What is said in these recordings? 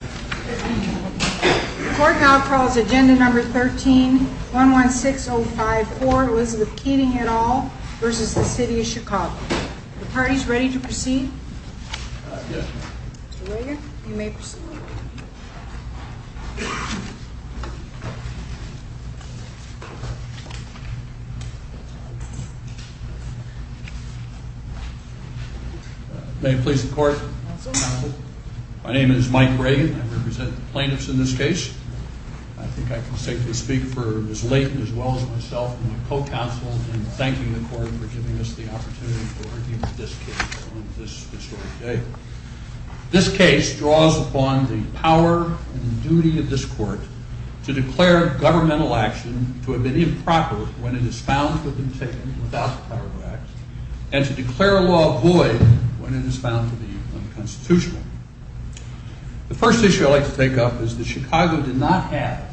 The court now calls Agenda No. 13-116054, Elizabeth Keating et al. v. City of Chicago. Are the parties ready to proceed? Yes. Mr. Reagan, you may proceed. May it please the Court? So moved. My name is Mike Reagan. I represent the plaintiffs in this case. I think I can safely speak for Ms. Layton as well as myself and my co-counsel in thanking the Court for giving us the opportunity to argue this case on this historic day. This case draws upon the power and duty of this Court to declare governmental action to have been improper when it is found to have been taken without the power to act and to declare a law void when it is found to be unconstitutional. The first issue I'd like to take up is that Chicago did not have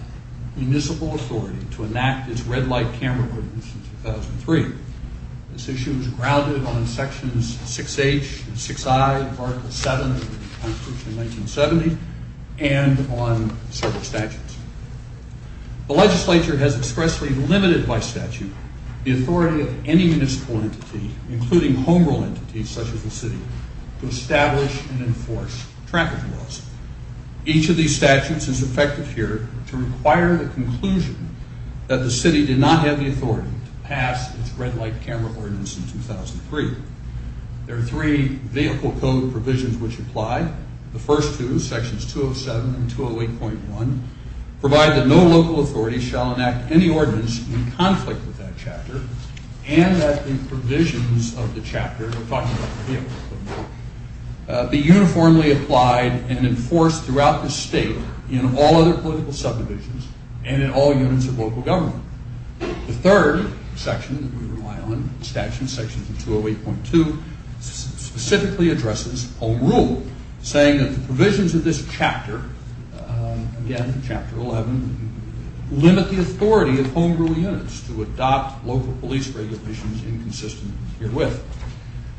municipal authority to enact its red-light camera ordinance in 2003. This issue was grounded on Sections 6H and 6I of Article VII of the Constitution in 1970 and on several statutes. The legislature has expressly limited by statute the authority of any municipal entity, including home rule entities such as the City, to establish and enforce traffic laws. Each of these statutes is effective here to require the conclusion that the City did not have the authority to pass its red-light camera ordinance in 2003. There are three vehicle code provisions which apply. The first two, Sections 207 and 208.1, provide that no local authority shall enact any ordinance in conflict with that chapter and that the provisions of the chapter, we're talking about the vehicle code, be uniformly applied and enforced throughout the state in all other political subdivisions and in all units of local government. The third section that we rely on, the statute of Sections 208.2, specifically addresses home rule, saying that the provisions of this chapter, again, Chapter 11, limit the authority of home rule units to adopt local police regulations inconsistent herewith.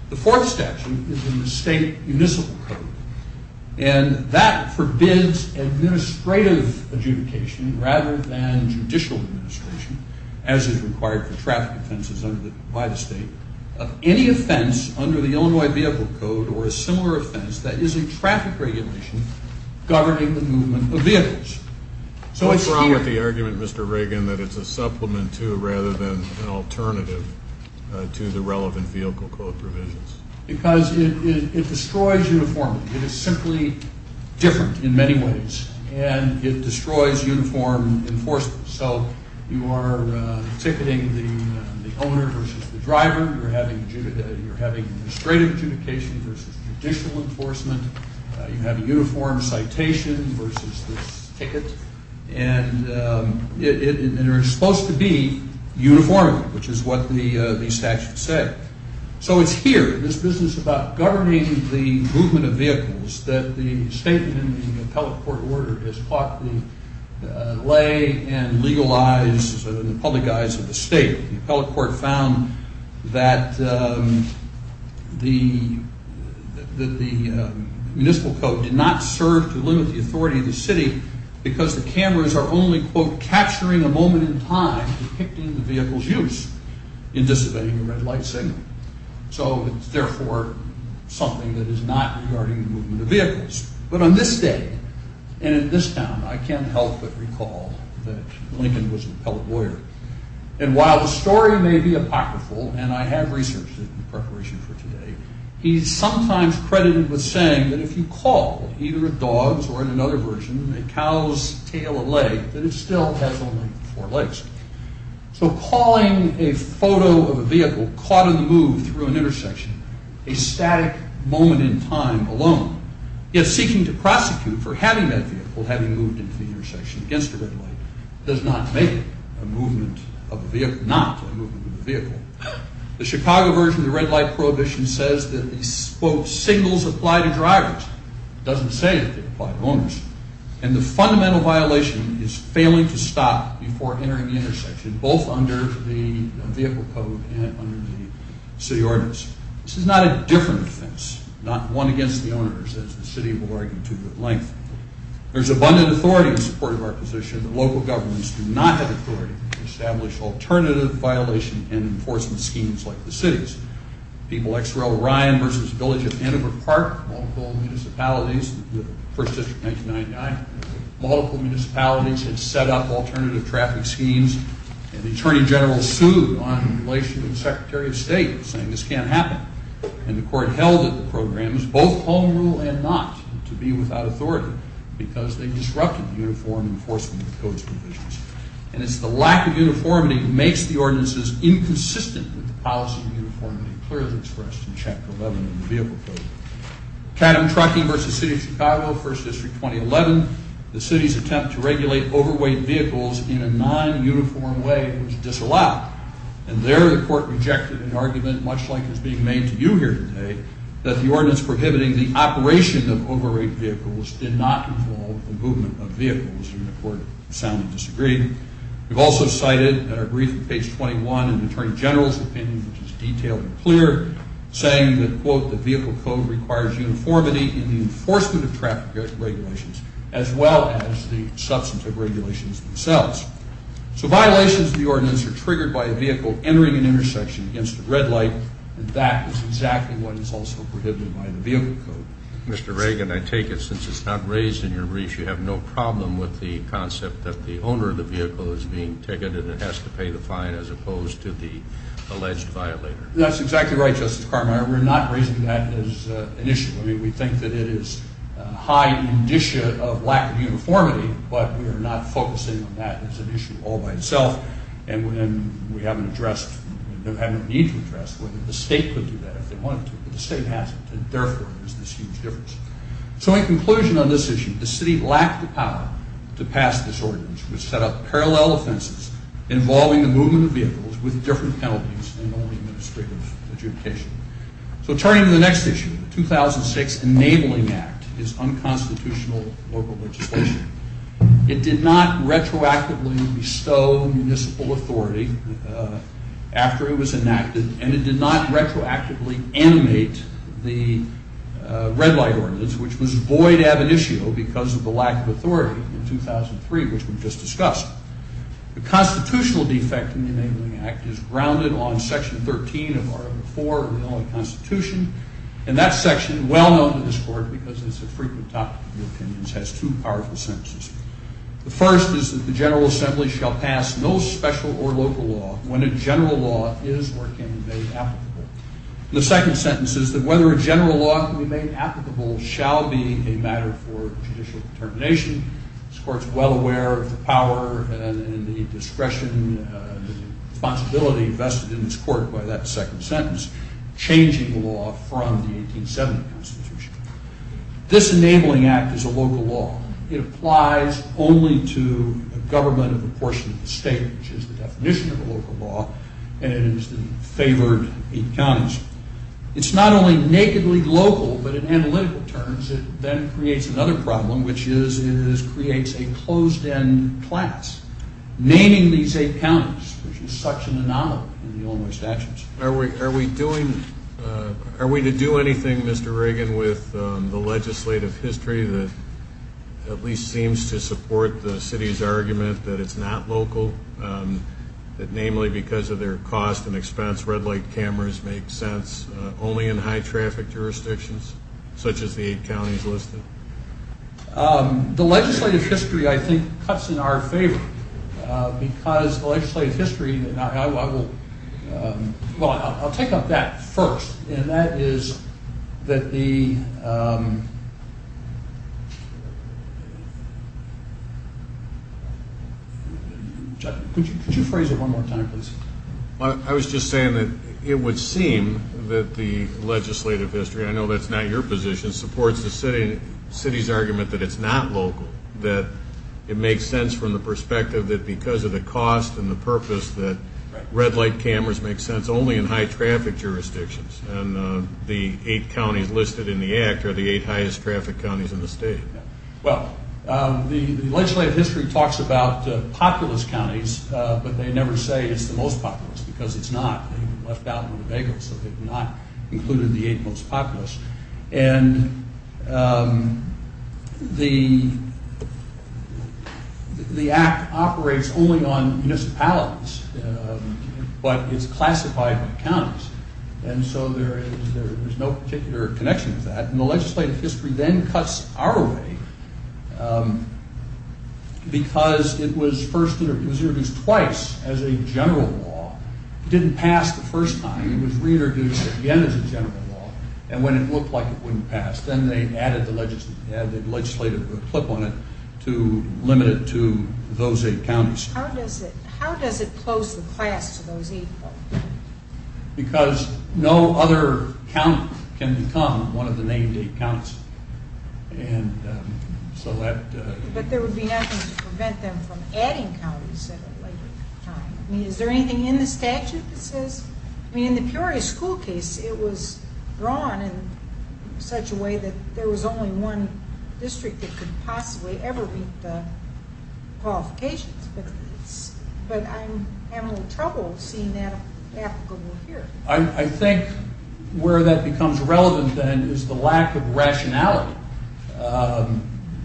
The fourth statute is in the state municipal code and that forbids administrative adjudication rather than judicial adjudication, as is required for traffic offenses by the state, of any offense under the Illinois Vehicle Code or a similar offense that is a traffic regulation governing the movement of vehicles. What's wrong with the argument, Mr. Reagan, that it's a supplement to rather than an alternative to the relevant vehicle code provisions? Because it destroys uniformity. It is simply different in many ways and it destroys uniform enforcement. So you are ticketing the owner versus the driver. You're having administrative adjudication versus judicial enforcement. You have a uniform citation versus this ticket. And they're supposed to be uniform, which is what the statute said. So it's here, this business about governing the movement of vehicles, that the statement in the appellate court order has caught the lay and legalized and the public eyes of the state. The appellate court found that the municipal code did not serve to limit the authority of the city because the cameras are only, quote, capturing a moment in time depicting the vehicle's use in dissipating a red light signal. So it's therefore something that is not regarding the movement of vehicles. But on this day and in this town, I can't help but recall that Lincoln was an appellate lawyer. And while the story may be apocryphal, and I have researched it in preparation for today, he's sometimes credited with saying that if you call either a dog's or in another version, a cow's tail or leg, that it still has only four legs. So calling a photo of a vehicle caught in the move through an intersection, a static moment in time alone, yet seeking to prosecute for having that vehicle having moved into the intersection against a red light, does not make a movement of a vehicle, not a movement of a vehicle. The Chicago version of the red light prohibition says that these, quote, signals apply to drivers. It doesn't say that they apply to owners. And the fundamental violation is failing to stop before entering the intersection, both under the vehicle code and under the city ordinance. This is not a different offense, not one against the owners, as the city will argue to good length. There's abundant authority in support of our position, but local governments do not have authority to establish alternative violation and enforcement schemes like the city's. People like Sir L. Ryan versus the village of Antelope Park, multiple municipalities, the first district 1999, multiple municipalities had set up alternative traffic schemes, and the Attorney General sued on the relation with the Secretary of State, saying this can't happen. And the court held that the program was both home rule and not, to be without authority, because they disrupted the uniform enforcement of the code's provisions. And it's the lack of uniformity that makes the ordinances inconsistent with the policy of uniformity, clearly expressed in Chapter 11 of the vehicle code. Cadham Trucking versus City of Chicago, First District 2011, the city's attempt to regulate overweight vehicles in a non-uniform way was disallowed. And there the court rejected an argument, much like is being made to you here today, that the ordinance prohibiting the operation of overweight vehicles did not involve the movement of vehicles. And the court soundly disagreed. We've also cited in our brief at page 21 an Attorney General's opinion, which is detailed and clear, saying that, quote, the vehicle code requires uniformity in the enforcement of traffic regulations, as well as the substantive regulations themselves. So violations of the ordinance are triggered by a vehicle entering an intersection against a red light, and that is exactly what is also prohibited by the vehicle code. Mr. Reagan, I take it since it's not raised in your brief, you have no problem with the concept that the owner of the vehicle is being ticketed and has to pay the fine as opposed to the alleged violator. That's exactly right, Justice Carminer. We're not raising that as an issue. I mean, we think that it is a high indicia of lack of uniformity, but we are not focusing on that as an issue all by itself. And we haven't addressed, or have no need to address whether the state could do that if they wanted to. But the state hasn't, and therefore there's this huge difference. So in conclusion on this issue, the city lacked the power to pass this ordinance, which set up parallel offenses involving the movement of vehicles with different penalties and only administrative adjudication. So turning to the next issue, the 2006 Enabling Act is unconstitutional local legislation. It did not retroactively bestow municipal authority after it was enacted, and it did not retroactively animate the red light ordinance, which was void ab initio because of the lack of authority in 2003, which we've just discussed. The constitutional defect in the Enabling Act is grounded on Section 13 of Article 4 of the Illinois Constitution, and that section, well known to this Court because it's a frequent topic in the opinions, has two powerful sentences. The first is that the General Assembly shall pass no special or local law when a general law is or can be made applicable. The second sentence is that whether a general law can be made applicable shall be a matter for judicial determination. This Court's well aware of the power and the discretion, the responsibility vested in this Court by that second sentence, changing the law from the 1870 Constitution. This Enabling Act is a local law. It applies only to the government of a portion of the state, which is the definition of a local law, and it is favored in counties. It's not only nakedly local, but in analytical terms it then creates another problem, which is it creates a closed-end class. Naming these eight counties, which is such an anomaly in the Illinois statutes. Are we to do anything, Mr. Reagan, with the legislative history that at least seems to support the city's argument that it's not local, that namely because of their cost and expense red-light cameras make sense only in high-traffic jurisdictions such as the eight counties listed? The legislative history, I think, cuts in our favor because the legislative history, and I will, well, I'll take up that first, and that is that the, could you phrase it one more time, please? I was just saying that it would seem that the legislative history, I know that's not your position, supports the city's argument that it's not local, that it makes sense from the perspective that because of the cost and the purpose that red-light cameras make sense only in high-traffic jurisdictions, and the eight counties listed in the Act are the eight highest-traffic counties in the state. Well, the legislative history talks about populous counties, but they never say it's the most populous because it's not. They left out the bagels, so they've not included the eight most populous. And the Act operates only on municipalities, but it's classified by counties, and so there is no particular connection to that, and the legislative history then cuts our way because it was first introduced twice as a general law. It didn't pass the first time. It was reintroduced again as a general law, and when it looked like it wouldn't pass, then they added the legislative clip on it to limit it to those eight counties. How does it close the class to those eight counties? Because no other county can become one of the named eight counties, and so that... But there would be nothing to prevent them from adding counties at a later time. I mean, is there anything in the statute that says... I mean, in the Peoria school case, it was drawn in such a way that there was only one district that could possibly ever meet the qualifications, but I'm having a little trouble seeing that applicable here. I think where that becomes relevant, then, is the lack of rationality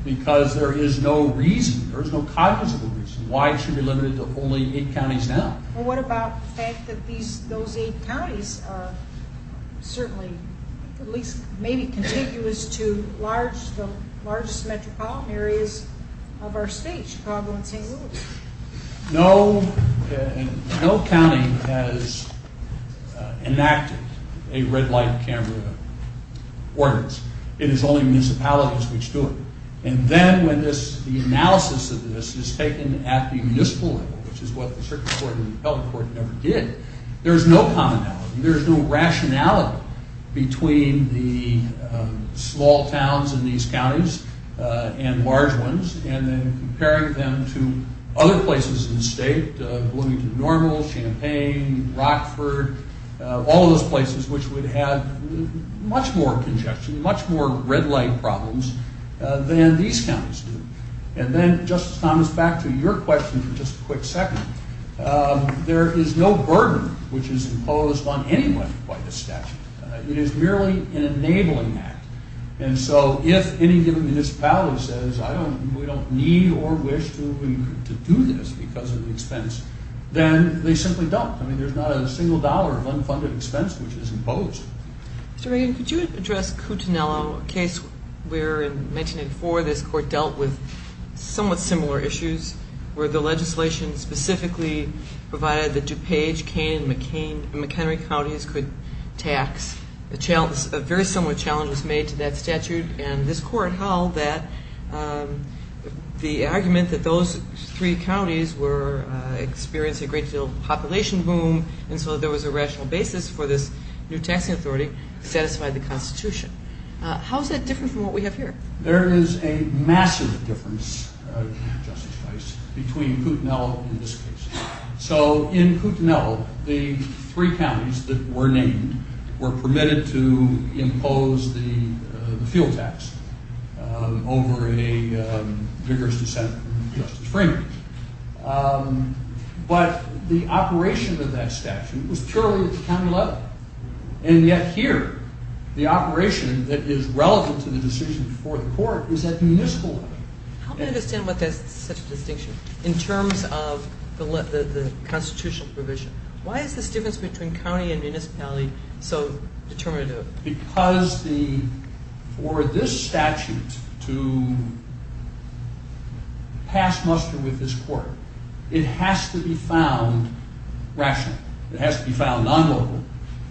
because there is no reason, there is no cognizable reason why it should be limited to only eight counties now. Well, what about the fact that those eight counties are certainly, at least maybe contiguous to the largest metropolitan areas of our state, Chicago and St. Louis? No county has enacted a red light camera ordinance. It is only municipalities which do it, and then when the analysis of this is taken at the municipal level, which is what the circuit court and the appellate court never did, there's no commonality, there's no rationality between the small towns in these counties and large ones, and then comparing them to other places in the state, Bloomington Normal, Champaign, Rockford, all of those places which would have much more congestion, much more red light problems than these counties do. And then, Justice Thomas, back to your question for just a quick second. There is no burden which is imposed on anyone by the statute. It is merely an enabling act, and so if any given municipality says, I don't, we don't need or wish to do this because of the expense, then they simply don't. I mean, there's not a single dollar of unfunded expense which is imposed. Mr. Reagan, could you address Coutinello, a case where in 1984 this court dealt with somewhat similar issues where the legislation specifically provided that DuPage, Cain, and McHenry counties could tax. A very similar challenge was made to that statute, and this court held that the argument that those three counties were experiencing a great deal of population boom and so there was a rational basis for this new taxing authority to satisfy the Constitution. How is that different from what we have here? There is a massive difference, Justice Weiss, between Coutinello and this case. So in Coutinello, the three counties that were named were permitted to impose the fuel tax over a vigorous dissent from Justice Freeman. But the operation of that statute was purely at the county level, and yet here the operation that is relevant to the decision before the court is at the municipal level. Help me understand what makes such a distinction in terms of the constitutional provision. Why is this difference between county and municipality so determinative? Because for this statute to pass muster with this court, it has to be found rational. It has to be found non-local,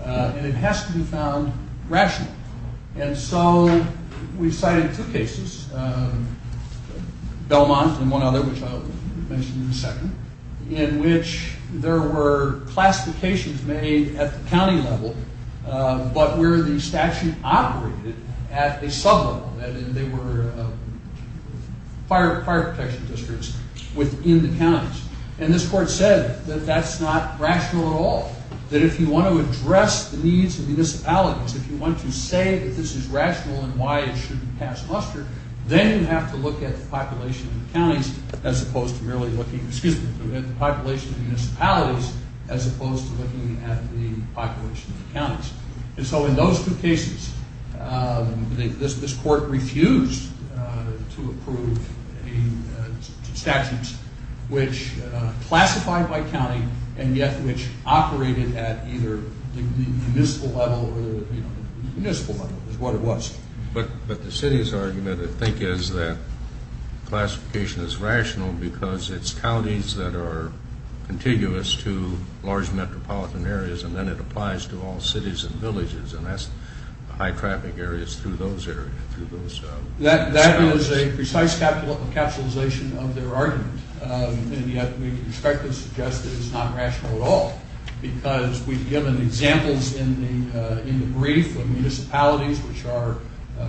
and it has to be found rational. And so we cited two cases, Belmont and one other, which I'll mention in a second, in which there were classifications made at the county level, but where the statute operated at a sub-level, that is, they were fire protection districts within the counties. And this court said that that's not rational at all, that if you want to address the needs of municipalities, if you want to say that this is rational and why it shouldn't pass muster, then you have to look at the population of the counties as opposed to merely looking at the population of the municipalities as opposed to looking at the population of the counties. And so in those two cases, this court refused to approve a statute which classified by county and yet which operated at either the municipal level or the municipal level is what it was. But the city's argument, I think, is that classification is rational because it's counties that are contiguous to large metropolitan areas, and then it applies to all cities and villages, and that's high-traffic areas through those areas. That is a precise capitalization of their argument, and yet we expect and suggest that it's not rational at all because we've given examples in the brief of municipalities which are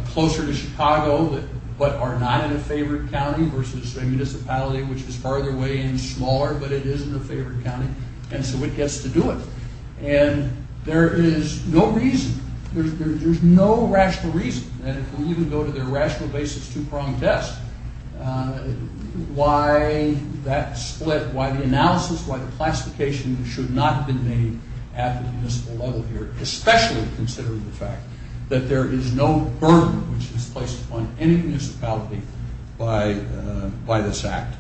closer to Chicago but are not in a favored county versus a municipality which is farther away and smaller but it is in a favored county, and so it gets to do it. And there is no reason, there's no rational reason that it will even go to their rational basis two-pronged test why that split, why the analysis, why the classification should not have been made at the municipal level here, especially considering the fact that there is no burden which is placed upon any municipality by this act.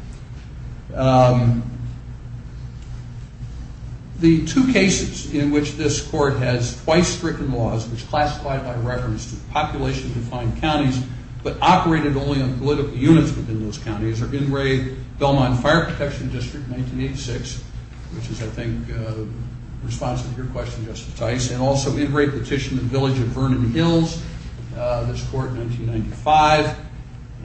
The two cases in which this court has twice-stricken laws which classified by reference to population-defined counties but operated only on political units within those counties are Ingray-Belmont Fire Protection District, 1986, which is, I think, responsive to your question, Justice Tice, and also Ingray-Petition-the-Village-of-Vernon-Hills, this court, 1995,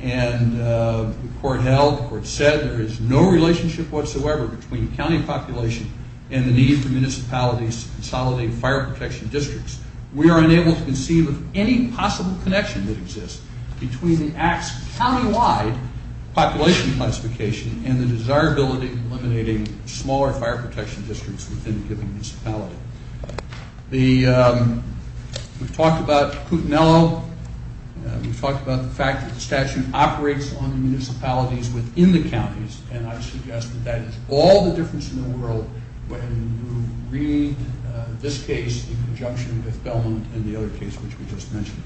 and the court held, the court said, there is no relationship whatsoever between county population and the need for municipalities to consolidate fire protection districts. We are unable to conceive of any possible connection that exists between the act's county-wide population classification and the desirability of eliminating smaller fire protection districts within a given municipality. We've talked about Kootenai, we've talked about the fact that the statute operates on municipalities within the counties, and I suggest that that is all the difference in the world when you read this case in conjunction with Belmont and the other case which we just mentioned.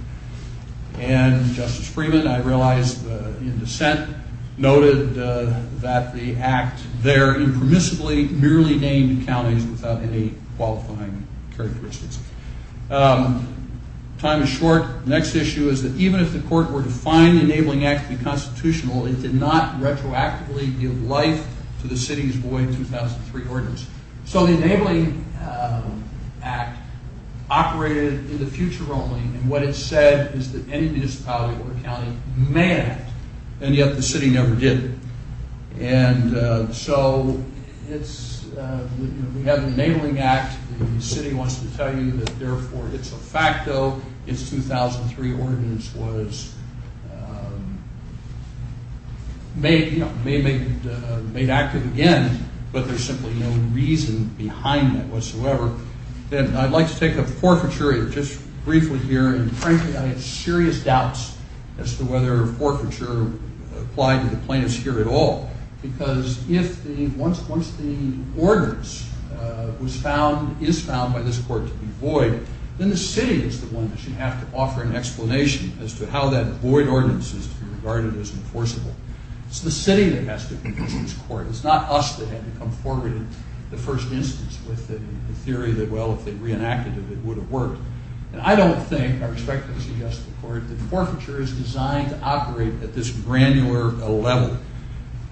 And Justice Freeman, I realize, in dissent, noted that the act there impermissibly merely named counties without any qualifying characteristics. Time is short. The next issue is that even if the court were to find enabling acts to be constitutional, it did not retroactively give life to the city's void 2003 ordinance. So the Enabling Act operated in the future only, and what it said is that any municipality or county may act, and yet the city never did. And so we have the Enabling Act, the city wants to tell you that therefore it's a fact, though, that the city's 2003 ordinance was made active again, but there's simply no reason behind that whatsoever. I'd like to take a forfeiture just briefly here, and frankly I have serious doubts as to whether forfeiture applied to the plaintiffs here at all, because once the ordinance is found by this court to be void, then the city is the one that should have to offer an explanation as to how that void ordinance is to be regarded as enforceable. It's the city that has to convince this court, it's not us that had to come forward in the first instance with the theory that, well, if they reenacted it, it would have worked. And I don't think, I respectfully suggest to the court, that forfeiture is designed to operate at this granular level.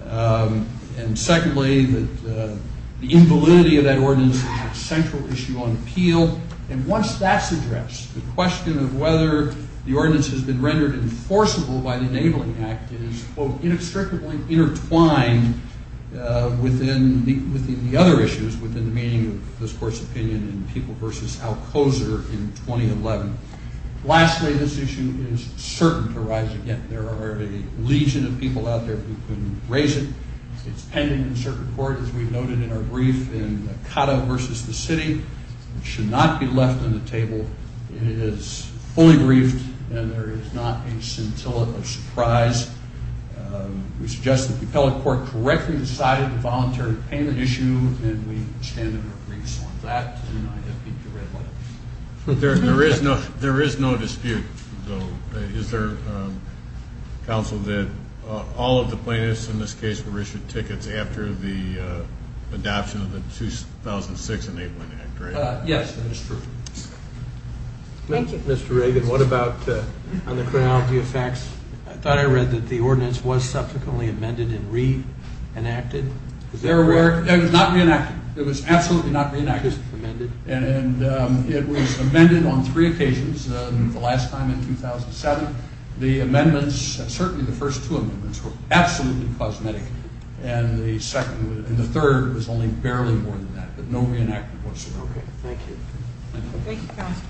And secondly, the invalidity of that ordinance is a central issue on appeal, and once that's addressed, the question of whether the ordinance has been rendered enforceable by the Enabling Act is, quote, inextricably intertwined within the other issues, within the meaning of this court's opinion in People v. Alcoser in 2011. Lastly, this issue is certain to rise again. There are a legion of people out there who can raise it. It's pending in circuit court, as we've noted in our brief, in Cata v. The City. It should not be left on the table. It is fully briefed, and there is not a scintillant of surprise. We suggest that the appellate court correctly decided the voluntary payment issue, and we stand in our briefs on that, and I have peaked a red light. There is no dispute, though. Is there, counsel, that all of the plaintiffs in this case were issued tickets after the adoption of the 2006 Enabling Act, right? Yes, that is true. Mr. Reagan, what about on the chronology of facts? I thought I read that the ordinance was subsequently amended and reenacted. It was not reenacted. It was absolutely not reenacted. And it was amended on three occasions. The last time in 2007, the amendments, certainly the first two amendments, were absolutely cosmetic, and the third was only barely more than that, but no reenactment whatsoever. Okay, thank you. Thank you. Thank you, counsel.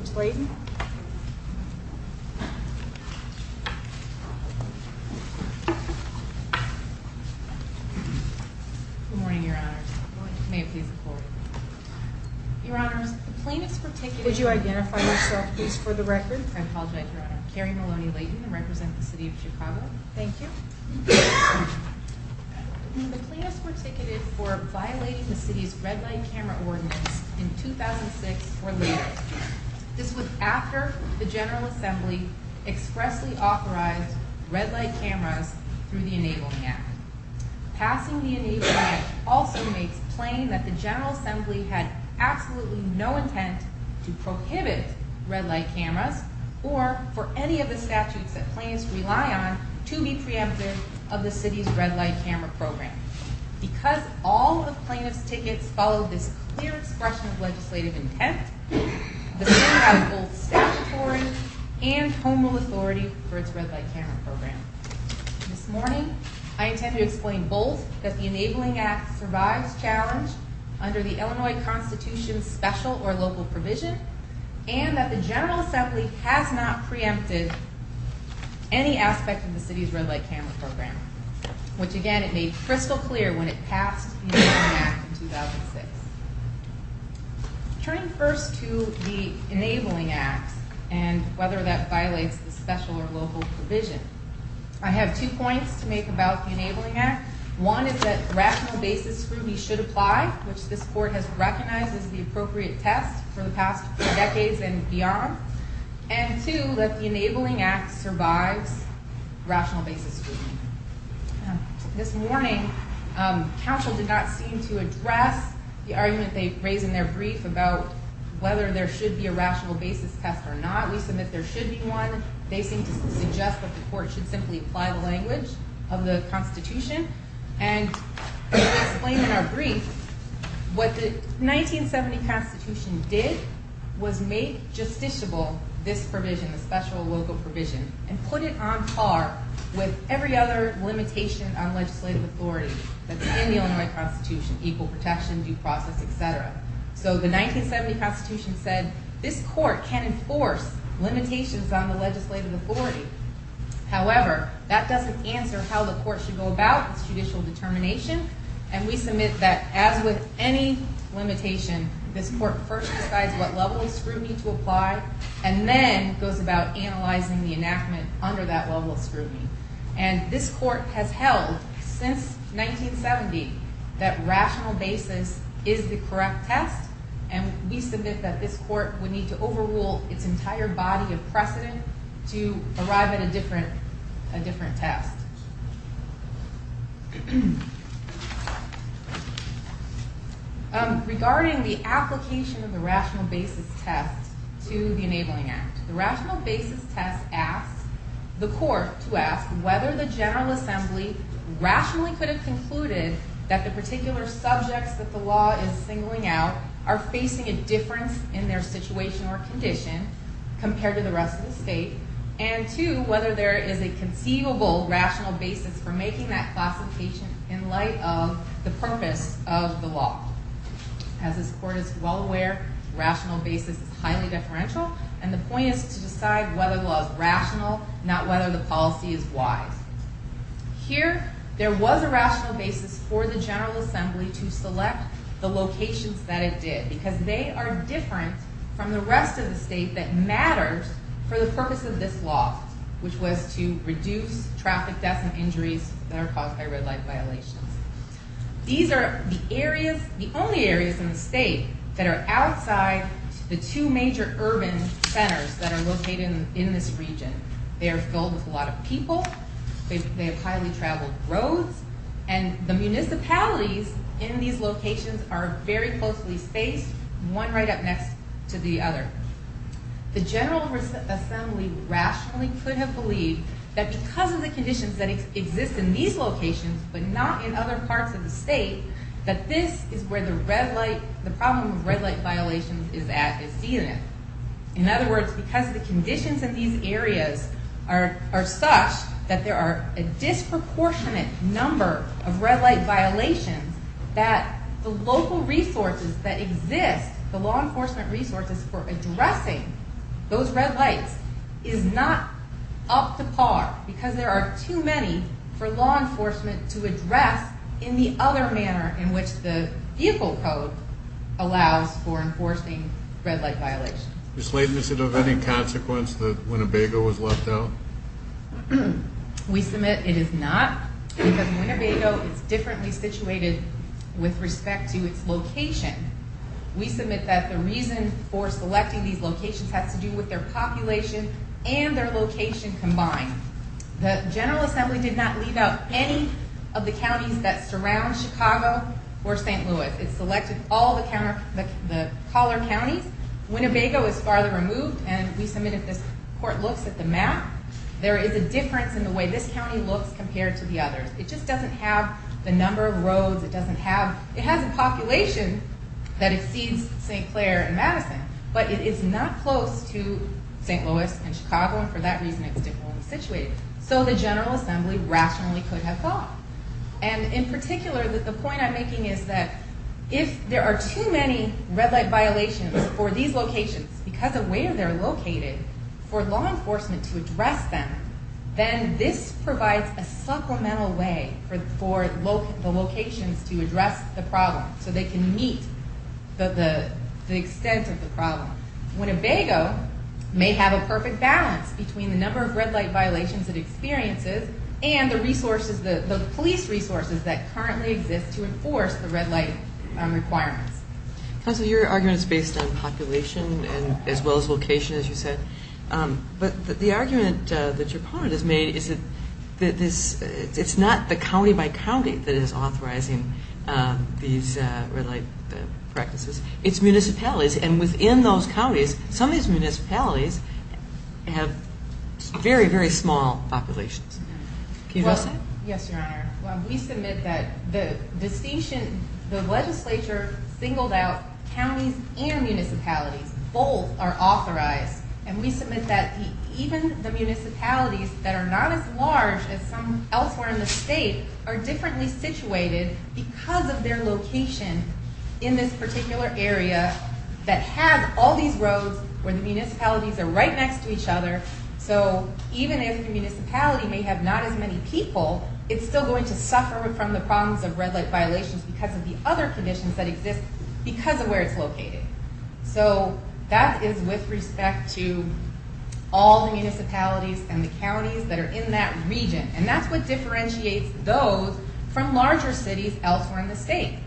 Ms. Leighton. Good morning, Your Honors. Good morning. May it please the Court. Your Honors, the plaintiffs were ticketed. Would you identify yourself, please, for the record? I apologize, Your Honor. Carrie Maloney Leighton, I represent the city of Chicago. Thank you. The plaintiffs were ticketed for violating the city's red light camera ordinance in 2006 or later. This was after the General Assembly expressly authorized red light cameras through the Enabling Act. Passing the Enabling Act also makes plain that the General Assembly had absolutely no intent to prohibit red light cameras or for any of the statutes that plaintiffs rely on to be preemptive of the city's red light camera program. Because all of the plaintiffs' tickets follow this clear expression of legislative intent, the city has both statutory and home rule authority for its red light camera program. This morning, I intend to explain both that the Enabling Act survives challenge under the Illinois Constitution's special or local provision, and that the General Assembly has not preempted any aspect of the city's red light camera program, which, again, it made crystal clear when it passed the Enabling Act in 2006. Turning first to the Enabling Act and whether that violates the special or local provision, I have two points to make about the Enabling Act. One is that rational basis scrutiny should apply, which this court has recognized as the appropriate test for the past decades and beyond. And two, that the Enabling Act survives rational basis scrutiny. This morning, counsel did not seem to address the argument they raised in their brief about whether there should be a rational basis test or not. We submit there should be one. They seem to suggest that the court should simply apply the language of the Constitution. And to explain in our brief, what the 1970 Constitution did was make justiciable this provision, the special or local provision, and put it on par with every other limitation on legislative authority that's in the Illinois Constitution, equal protection, due process, et cetera. So the 1970 Constitution said this court can enforce limitations on the legislative authority. However, that doesn't answer how the court should go about its judicial determination. And we submit that as with any limitation, this court first decides what level of scrutiny to apply and then goes about analyzing the enactment under that level of scrutiny. And this court has held since 1970 that rational basis is the correct test. And we submit that this court would need to overrule its entire body of precedent to arrive at a different test. Regarding the application of the rational basis test to the Enabling Act, the rational basis test asks the court to ask whether the General Assembly rationally could have concluded that the particular subjects that the law is singling out are facing a difference in their situation or condition compared to the rest of the state. And two, whether there is a conceivable rational basis for making that classification in light of the purpose of the law. As this court is well aware, rational basis is highly deferential. And the point is to decide whether the law is rational, not whether the policy is wise. Here, there was a rational basis for the General Assembly to select the locations that it did because they are different from the rest of the state that matters for the purpose of this law, which was to reduce traffic deaths and injuries that are caused by red light violations. These are the areas, the only areas in the state that are outside the two major urban centers that are located in this region. They are filled with a lot of people. They have highly traveled roads. And the municipalities in these locations are very closely spaced, one right up next to the other. The General Assembly rationally could have believed that because of the conditions that exist in these locations but not in other parts of the state, that this is where the problem of red light violations is at, is dealing with. In other words, because the conditions in these areas are such that there are a disproportionate number of red light violations, that the local resources that exist, the law enforcement resources for addressing those red lights, is not up to par because there are too many for law enforcement to address in the other manner in which the vehicle code allows for enforcing red light violations. Ms. Leibniz, is it of any consequence that Winnebago was left out? We submit it is not because Winnebago is differently situated with respect to its location. We submit that the reason for selecting these locations has to do with their population and their location combined. The General Assembly did not leave out any of the counties that surround Chicago or St. Louis. It selected all the collar counties. Winnebago is farther removed, and we submit if this court looks at the map, there is a difference in the way this county looks compared to the others. It just doesn't have the number of roads, it doesn't have, it has a population that exceeds St. Clair and Madison, but it is not close to St. Louis and Chicago, and for that reason it's differently situated. So the General Assembly rationally could have thought. And in particular, the point I'm making is that if there are too many red light violations for these locations, because of where they're located, for law enforcement to address them, then this provides a supplemental way for the locations to address the problem, so they can meet the extent of the problem. Winnebago may have a perfect balance between the number of red light violations it experiences and the police resources that currently exist to enforce the red light requirements. Counsel, your argument is based on population as well as location, as you said. But the argument that your opponent has made is that it's not the county by county that is authorizing these red light practices. It's municipalities, and within those counties, some of these municipalities have very, very small populations. Can you address that? Yes, Your Honor. We submit that the decision, the legislature singled out counties and municipalities. Both are authorized, and we submit that even the municipalities that are not as large as some elsewhere in the state are differently situated because of their location in this particular area that has all these roads where the municipalities are right next to each other. So even if the municipality may have not as many people, it's still going to suffer from the problems of red light violations because of the other conditions that exist because of where it's located. So that is with respect to all the municipalities and the counties that are in that region, and that's what differentiates those from larger cities elsewhere in the state.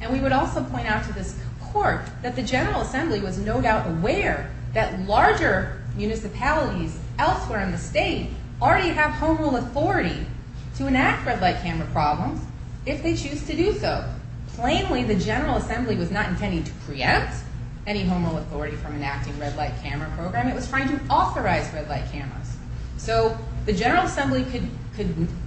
And we would also point out to this court that the General Assembly was no doubt aware that larger municipalities elsewhere in the state already have home rule authority to enact red light camera problems if they choose to do so. Plainly, the General Assembly was not intending to preempt any home rule authority from enacting red light camera program. It was trying to authorize red light cameras. So the General Assembly could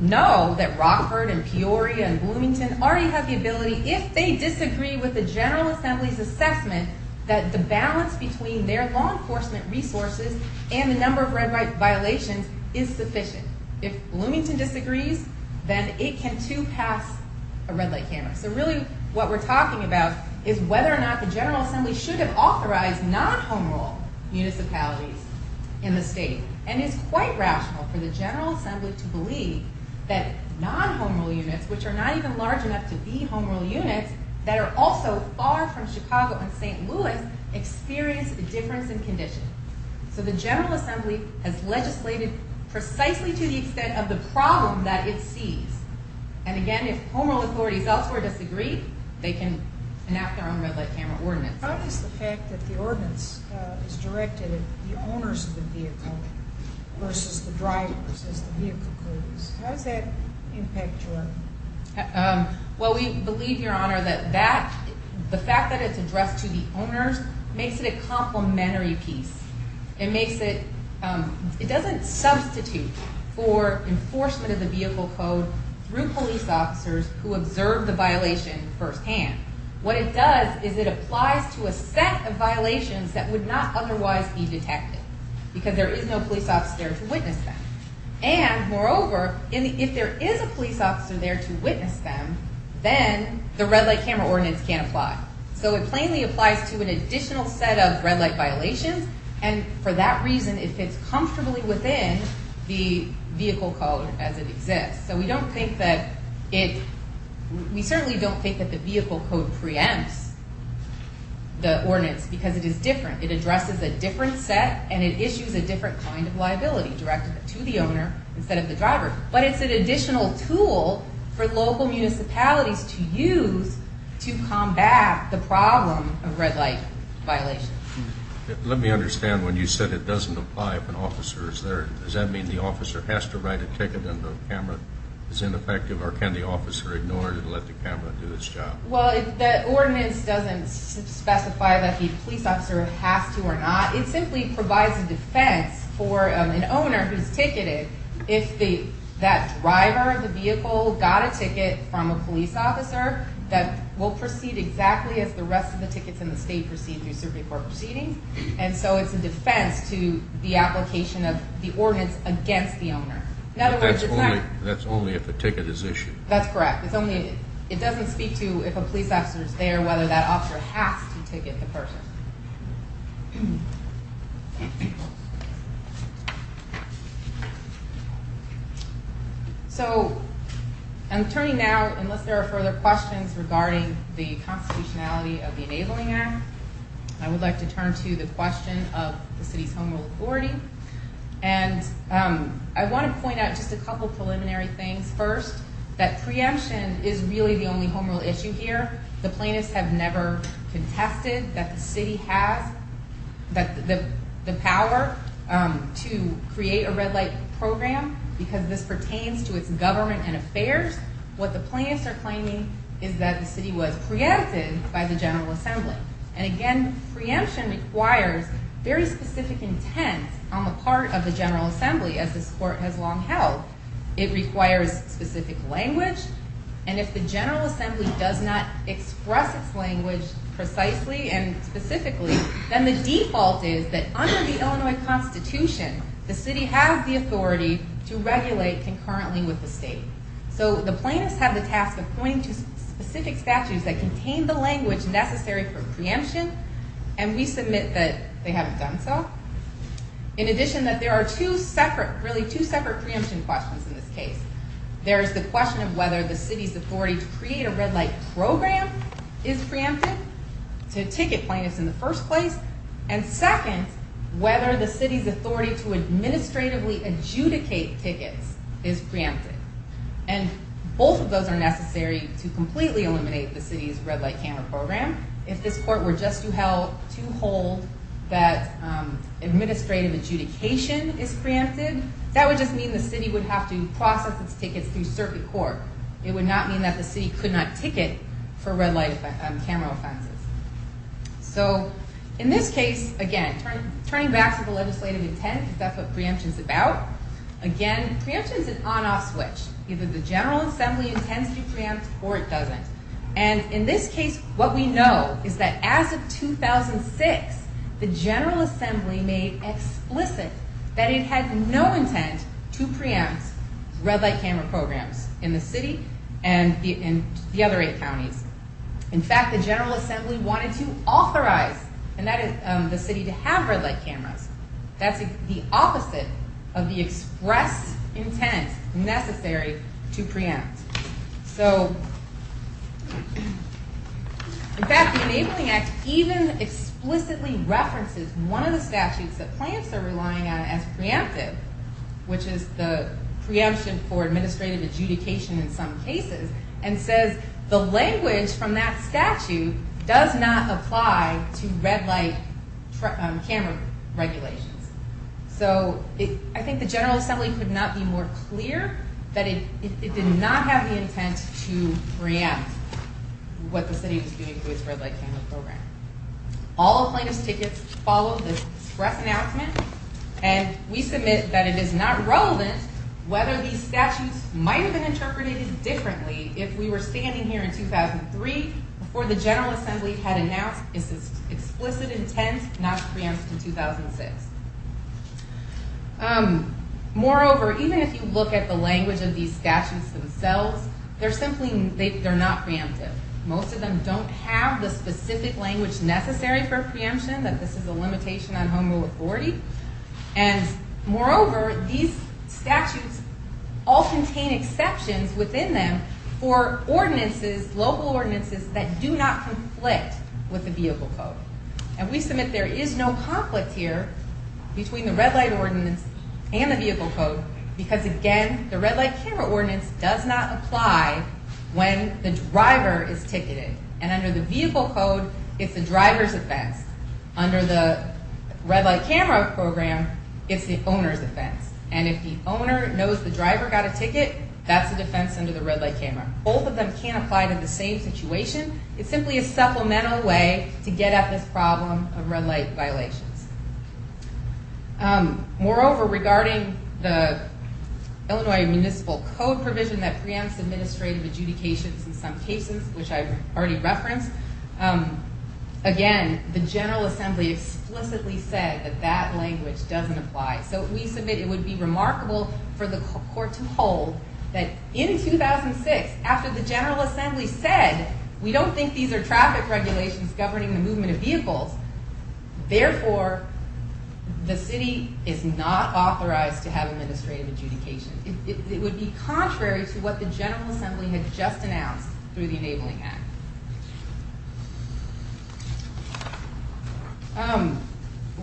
know that Rockford and Peoria and Bloomington already have the ability, if they disagree with the General Assembly's assessment, that the balance between their law enforcement resources and the number of red light violations is sufficient. If Bloomington disagrees, then it can too pass a red light camera. So really what we're talking about is whether or not the General Assembly should have authorized non-home rule municipalities in the state. And it's quite rational for the General Assembly to believe that non-home rule units, which are not even large enough to be home rule units, that are also far from Chicago and St. Louis, experience a difference in condition. So the General Assembly has legislated precisely to the extent of the problem that it sees. And again, if home rule authorities elsewhere disagree, they can enact their own red light camera ordinance. How does the fact that the ordinance is directed at the owners of the vehicle versus the drivers as the vehicle codes, how does that impact your argument? Well, we believe, Your Honor, that the fact that it's addressed to the owners makes it a complementary piece. It doesn't substitute for enforcement of the vehicle code through police officers who observe the violation firsthand. What it does is it applies to a set of violations that would not otherwise be detected, because there is no police officer there to witness them. And moreover, if there is a police officer there to witness them, then the red light camera ordinance can't apply. So it plainly applies to an additional set of red light violations, and for that reason, it fits comfortably within the vehicle code as it exists. So we don't think that it, we certainly don't think that the vehicle code preempts the ordinance, because it is different. It addresses a different set, and it issues a different kind of liability directed to the owner instead of the driver. But it's an additional tool for local municipalities to use to combat the problem of red light violations. Let me understand. When you said it doesn't apply if an officer is there, does that mean the officer has to write a ticket and the camera is ineffective, or can the officer ignore it and let the camera do its job? Well, the ordinance doesn't specify that the police officer has to or not. It simply provides a defense for an owner who's ticketed if that driver of the vehicle got a ticket from a police officer that will proceed exactly as the rest of the tickets in the state proceed through circuit court proceedings. And so it's a defense to the application of the ordinance against the owner. In other words, it's not – But that's only if a ticket is issued. That's correct. It's only, it doesn't speak to if a police officer is there, whether that officer has to ticket the person. Thank you. So I'm turning now, unless there are further questions regarding the constitutionality of the Enabling Act, I would like to turn to the question of the city's home rule authority. And I want to point out just a couple preliminary things. First, that preemption is really the only home rule issue here. The plaintiffs have never contested that the city has the power to create a red light program because this pertains to its government and affairs. What the plaintiffs are claiming is that the city was preempted by the General Assembly. And again, preemption requires very specific intent on the part of the General Assembly as this court has long held. It requires specific language. And if the General Assembly does not express its language precisely and specifically, then the default is that under the Illinois Constitution, the city has the authority to regulate concurrently with the state. So the plaintiffs have the task of pointing to specific statutes that contain the language necessary for preemption. And we submit that they haven't done so. In addition, that there are two separate, really two separate preemption questions in this case. There is the question of whether the city's authority to create a red light program is preempted to ticket plaintiffs in the first place. And second, whether the city's authority to administratively adjudicate tickets is preempted. And both of those are necessary to completely eliminate the city's red light camera program. If this court were just to hold that administrative adjudication is preempted, that would just mean the city would have to process its tickets through circuit court. It would not mean that the city could not ticket for red light camera offenses. So in this case, again, turning back to the legislative intent, that's what preemption is about. Again, preemption is an on-off switch. Either the General Assembly intends to preempt or it doesn't. And in this case, what we know is that as of 2006, the General Assembly made explicit that it had no intent to preempt red light camera programs in the city and the other eight counties. In fact, the General Assembly wanted to authorize the city to have red light cameras. That's the opposite of the express intent necessary to preempt. In fact, the Enabling Act even explicitly references one of the statutes that plants are relying on as preemptive, which is the preemption for administrative adjudication in some cases, and says the language from that statute does not apply to red light camera regulations. So I think the General Assembly could not be more clear that it did not have the intent to preempt what the city was doing to its red light camera program. All plaintiff's tickets follow this express announcement, and we submit that it is not relevant whether these statutes might have been interpreted differently if we were standing here in 2003 before the General Assembly had announced its explicit intent not to preempt in 2006. Moreover, even if you look at the language of these statutes themselves, they're simply not preemptive. Most of them don't have the specific language necessary for preemption, that this is a limitation on homo authority. And moreover, these statutes all contain exceptions within them for ordinances, local ordinances, that do not conflict with the vehicle code. And we submit there is no conflict here between the red light ordinance and the vehicle code, because again, the red light camera ordinance does not apply when the driver is ticketed. And under the vehicle code, it's the driver's offense. Under the red light camera program, it's the owner's offense. And if the owner knows the driver got a ticket, that's a defense under the red light camera. Both of them can't apply to the same situation. It's simply a supplemental way to get at this problem of red light violations. Moreover, regarding the Illinois Municipal Code provision that preempts administrative adjudications in some cases, which I've already referenced, again, the General Assembly explicitly said that that language doesn't apply. So we submit it would be remarkable for the court to hold that in 2006, after the General Assembly said, we don't think these are traffic regulations governing the movement of vehicles. Therefore, the city is not authorized to have administrative adjudication. It would be contrary to what the General Assembly had just announced through the Enabling Act.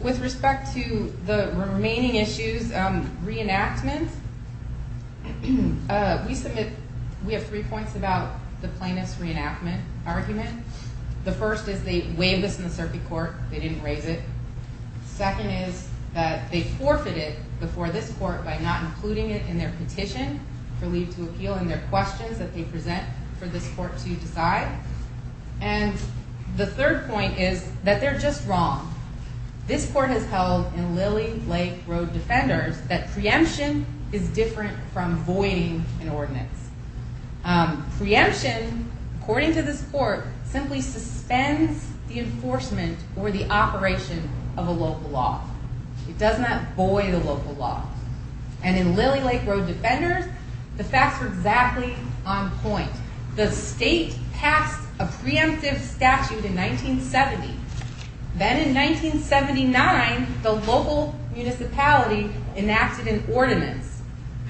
With respect to the remaining issues, reenactment, we have three points about the plaintiff's reenactment argument. The first is they waived this in the circuit court. They didn't raise it. Second is that they forfeited before this court by not including it in their petition for leave to appeal and their questions that they present for this court to decide. And the third point is that they're just wrong. This court has held in Lilly Lake Road Defenders that preemption is different from voiding an ordinance. Preemption, according to this court, simply suspends the enforcement or the operation of a local law. It does not void a local law. And in Lilly Lake Road Defenders, the facts are exactly on point. The state passed a preemptive statute in 1970. Then in 1979, the local municipality enacted an ordinance.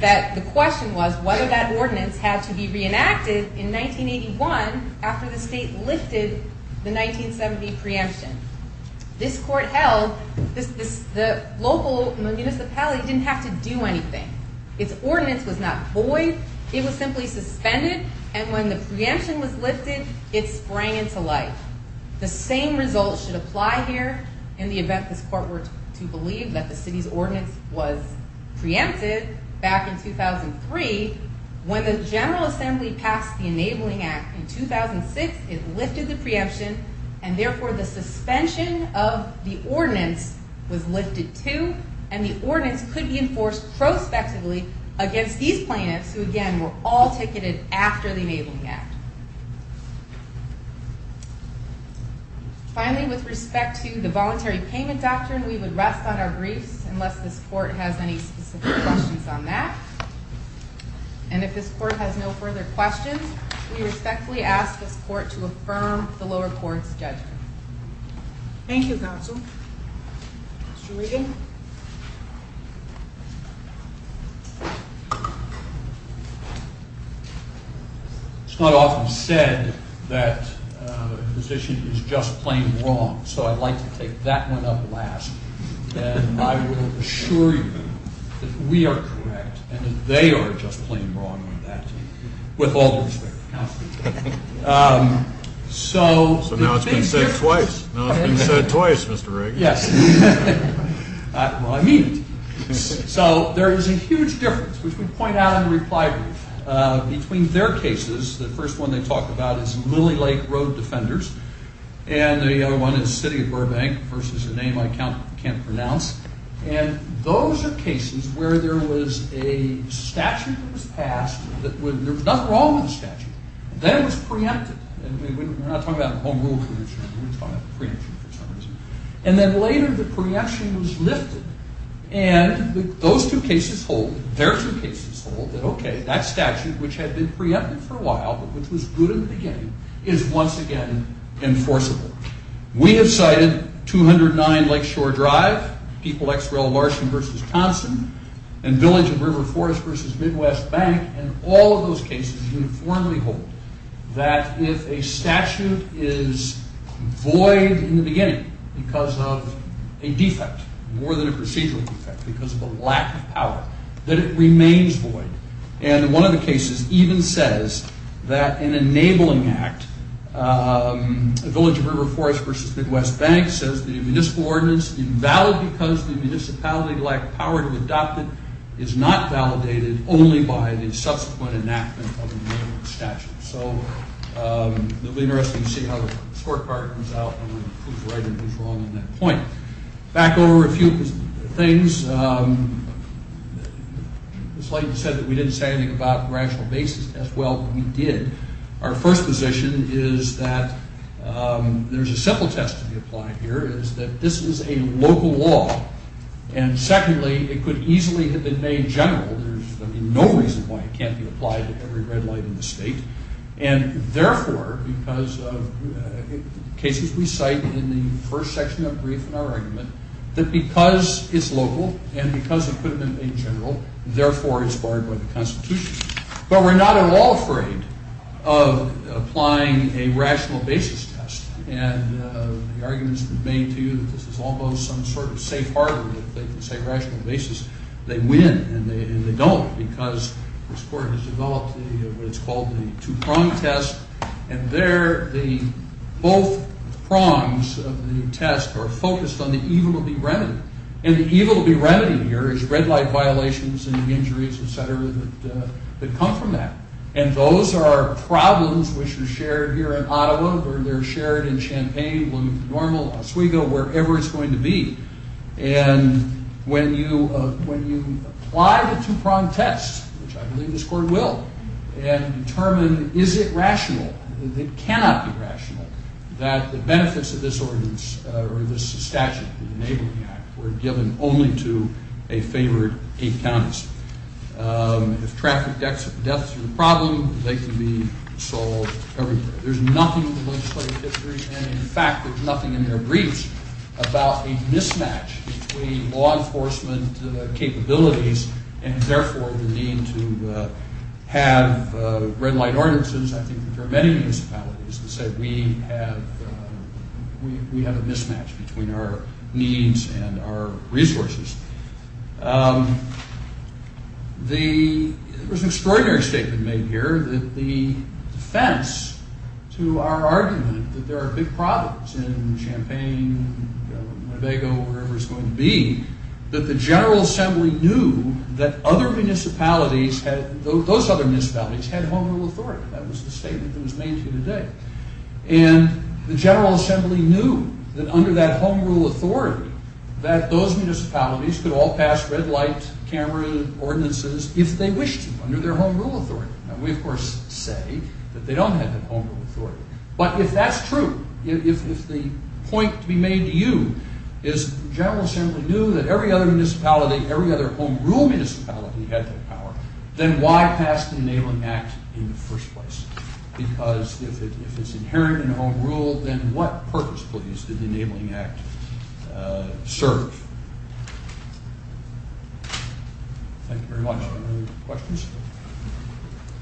The question was whether that ordinance had to be reenacted in 1981 after the state lifted the 1970 preemption. This court held the local municipality didn't have to do anything. Its ordinance was not void. It was simply suspended. And when the preemption was lifted, it sprang into life. The same results should apply here in the event this court were to believe that the city's ordinance was preempted back in 2003. When the General Assembly passed the Enabling Act in 2006, it lifted the preemption. And therefore, the suspension of the ordinance was lifted too. And the ordinance could be enforced prospectively against these plaintiffs who, again, were all ticketed after the Enabling Act. Finally, with respect to the Voluntary Payment Doctrine, we would rest on our briefs unless this court has any specific questions on that. And if this court has no further questions, we respectfully ask this court to affirm the lower court's judgment. Thank you, counsel. Mr. Regan? It's not often said that a position is just plain wrong, so I'd like to take that one up last. And I will assure you that we are correct and that they are just plain wrong on that, with all due respect to counsel. So now it's been said twice. Now it's been said twice, Mr. Regan. Yes. Well, I mean it. So there is a huge difference, which we point out in the reply brief, between their cases. The first one they talk about is Lily Lake Road Defenders. And the other one is City of Burbank versus a name I can't pronounce. And those are cases where there was a statute that was passed. There was nothing wrong with the statute. Then it was preempted. We're not talking about home rule preemption. We're talking about preemption for some reason. And then later the preemption was lifted. And those two cases hold. Their two cases hold that, okay, that statute, which had been preempted for a while but which was good in the beginning, is once again enforceable. We have cited 209 Lakeshore Drive, People X Rail Larson versus Thompson, and Village and River Forest versus Midwest Bank. And all of those cases uniformly hold that if a statute is void in the beginning because of a defect, more than a procedural defect because of a lack of power, that it remains void. And one of the cases even says that an enabling act, Village and River Forest versus Midwest Bank, says the municipal ordinance invalid because the municipality lacked power to adopt it is not validated only by the subsequent enactment of an enabling statute. So it will be interesting to see how the scorecard comes out and who's right and who's wrong on that point. Back over a few things. It's likely to be said that we didn't say anything about rational basis tests. Well, we did. Our first position is that there's a simple test to be applied here is that this is a local law. And secondly, it could easily have been made general. There's no reason why it can't be applied to every red light in the state. And therefore, because of cases we cite in the first section of brief in our argument, that because it's local and because it could have been made general, therefore it's barred by the Constitution. But we're not at all afraid of applying a rational basis test. And the argument has been made to you that this is almost some sort of safe harbor that they can say rational basis. They win and they don't because this court has developed what it's called the two-prong test. And there, both prongs of the test are focused on the evil of the remedy. And the evil of the remedy here is red light violations and the injuries, et cetera, that come from that. And those are problems which are shared here in Ottawa or they're shared in Champaign, Wilmington-Normal, Oswego, wherever it's going to be. And when you apply the two-prong test, which I believe this court will, and determine is it rational, it cannot be rational that the benefits of this ordinance or this statute, the Enabling Act, were given only to a favored eight counties. If traffic deaths are a problem, they can be solved everywhere. There's nothing in the legislative history, and in fact there's nothing in their briefs, about a mismatch between law enforcement capabilities and therefore the need to have red light ordinances. I think there are many municipalities that say we have a mismatch between our needs and our resources. There was an extraordinary statement made here that the defense to our argument that there are big problems in Champaign, Winnebago, wherever it's going to be, that the General Assembly knew that those other municipalities had home rule authority. That was the statement that was made here today. And the General Assembly knew that under that home rule authority, that those municipalities could all pass red light, cameras, ordinances, if they wished to under their home rule authority. Now we of course say that they don't have that home rule authority. But if that's true, if the point to be made to you is the General Assembly knew that every other municipality, every other home rule municipality, had that power, then why pass the Enabling Act in the first place? Because if it's inherent in home rule, then what purpose, please, did the Enabling Act serve? Thank you very much. Any other questions?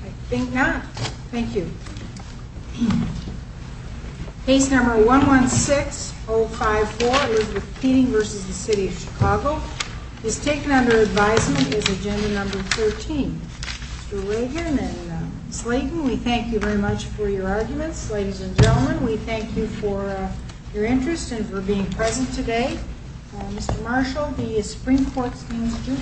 I think not. Thank you. Case number 116054 is with Peting v. the City of Chicago. It's taken under advisement as agenda number 13. Mr. Reagan and Ms. Layton, we thank you very much for your arguments. Ladies and gentlemen, we thank you for your interest and for being present today. Mr. Marshall, the Supreme Court's manager.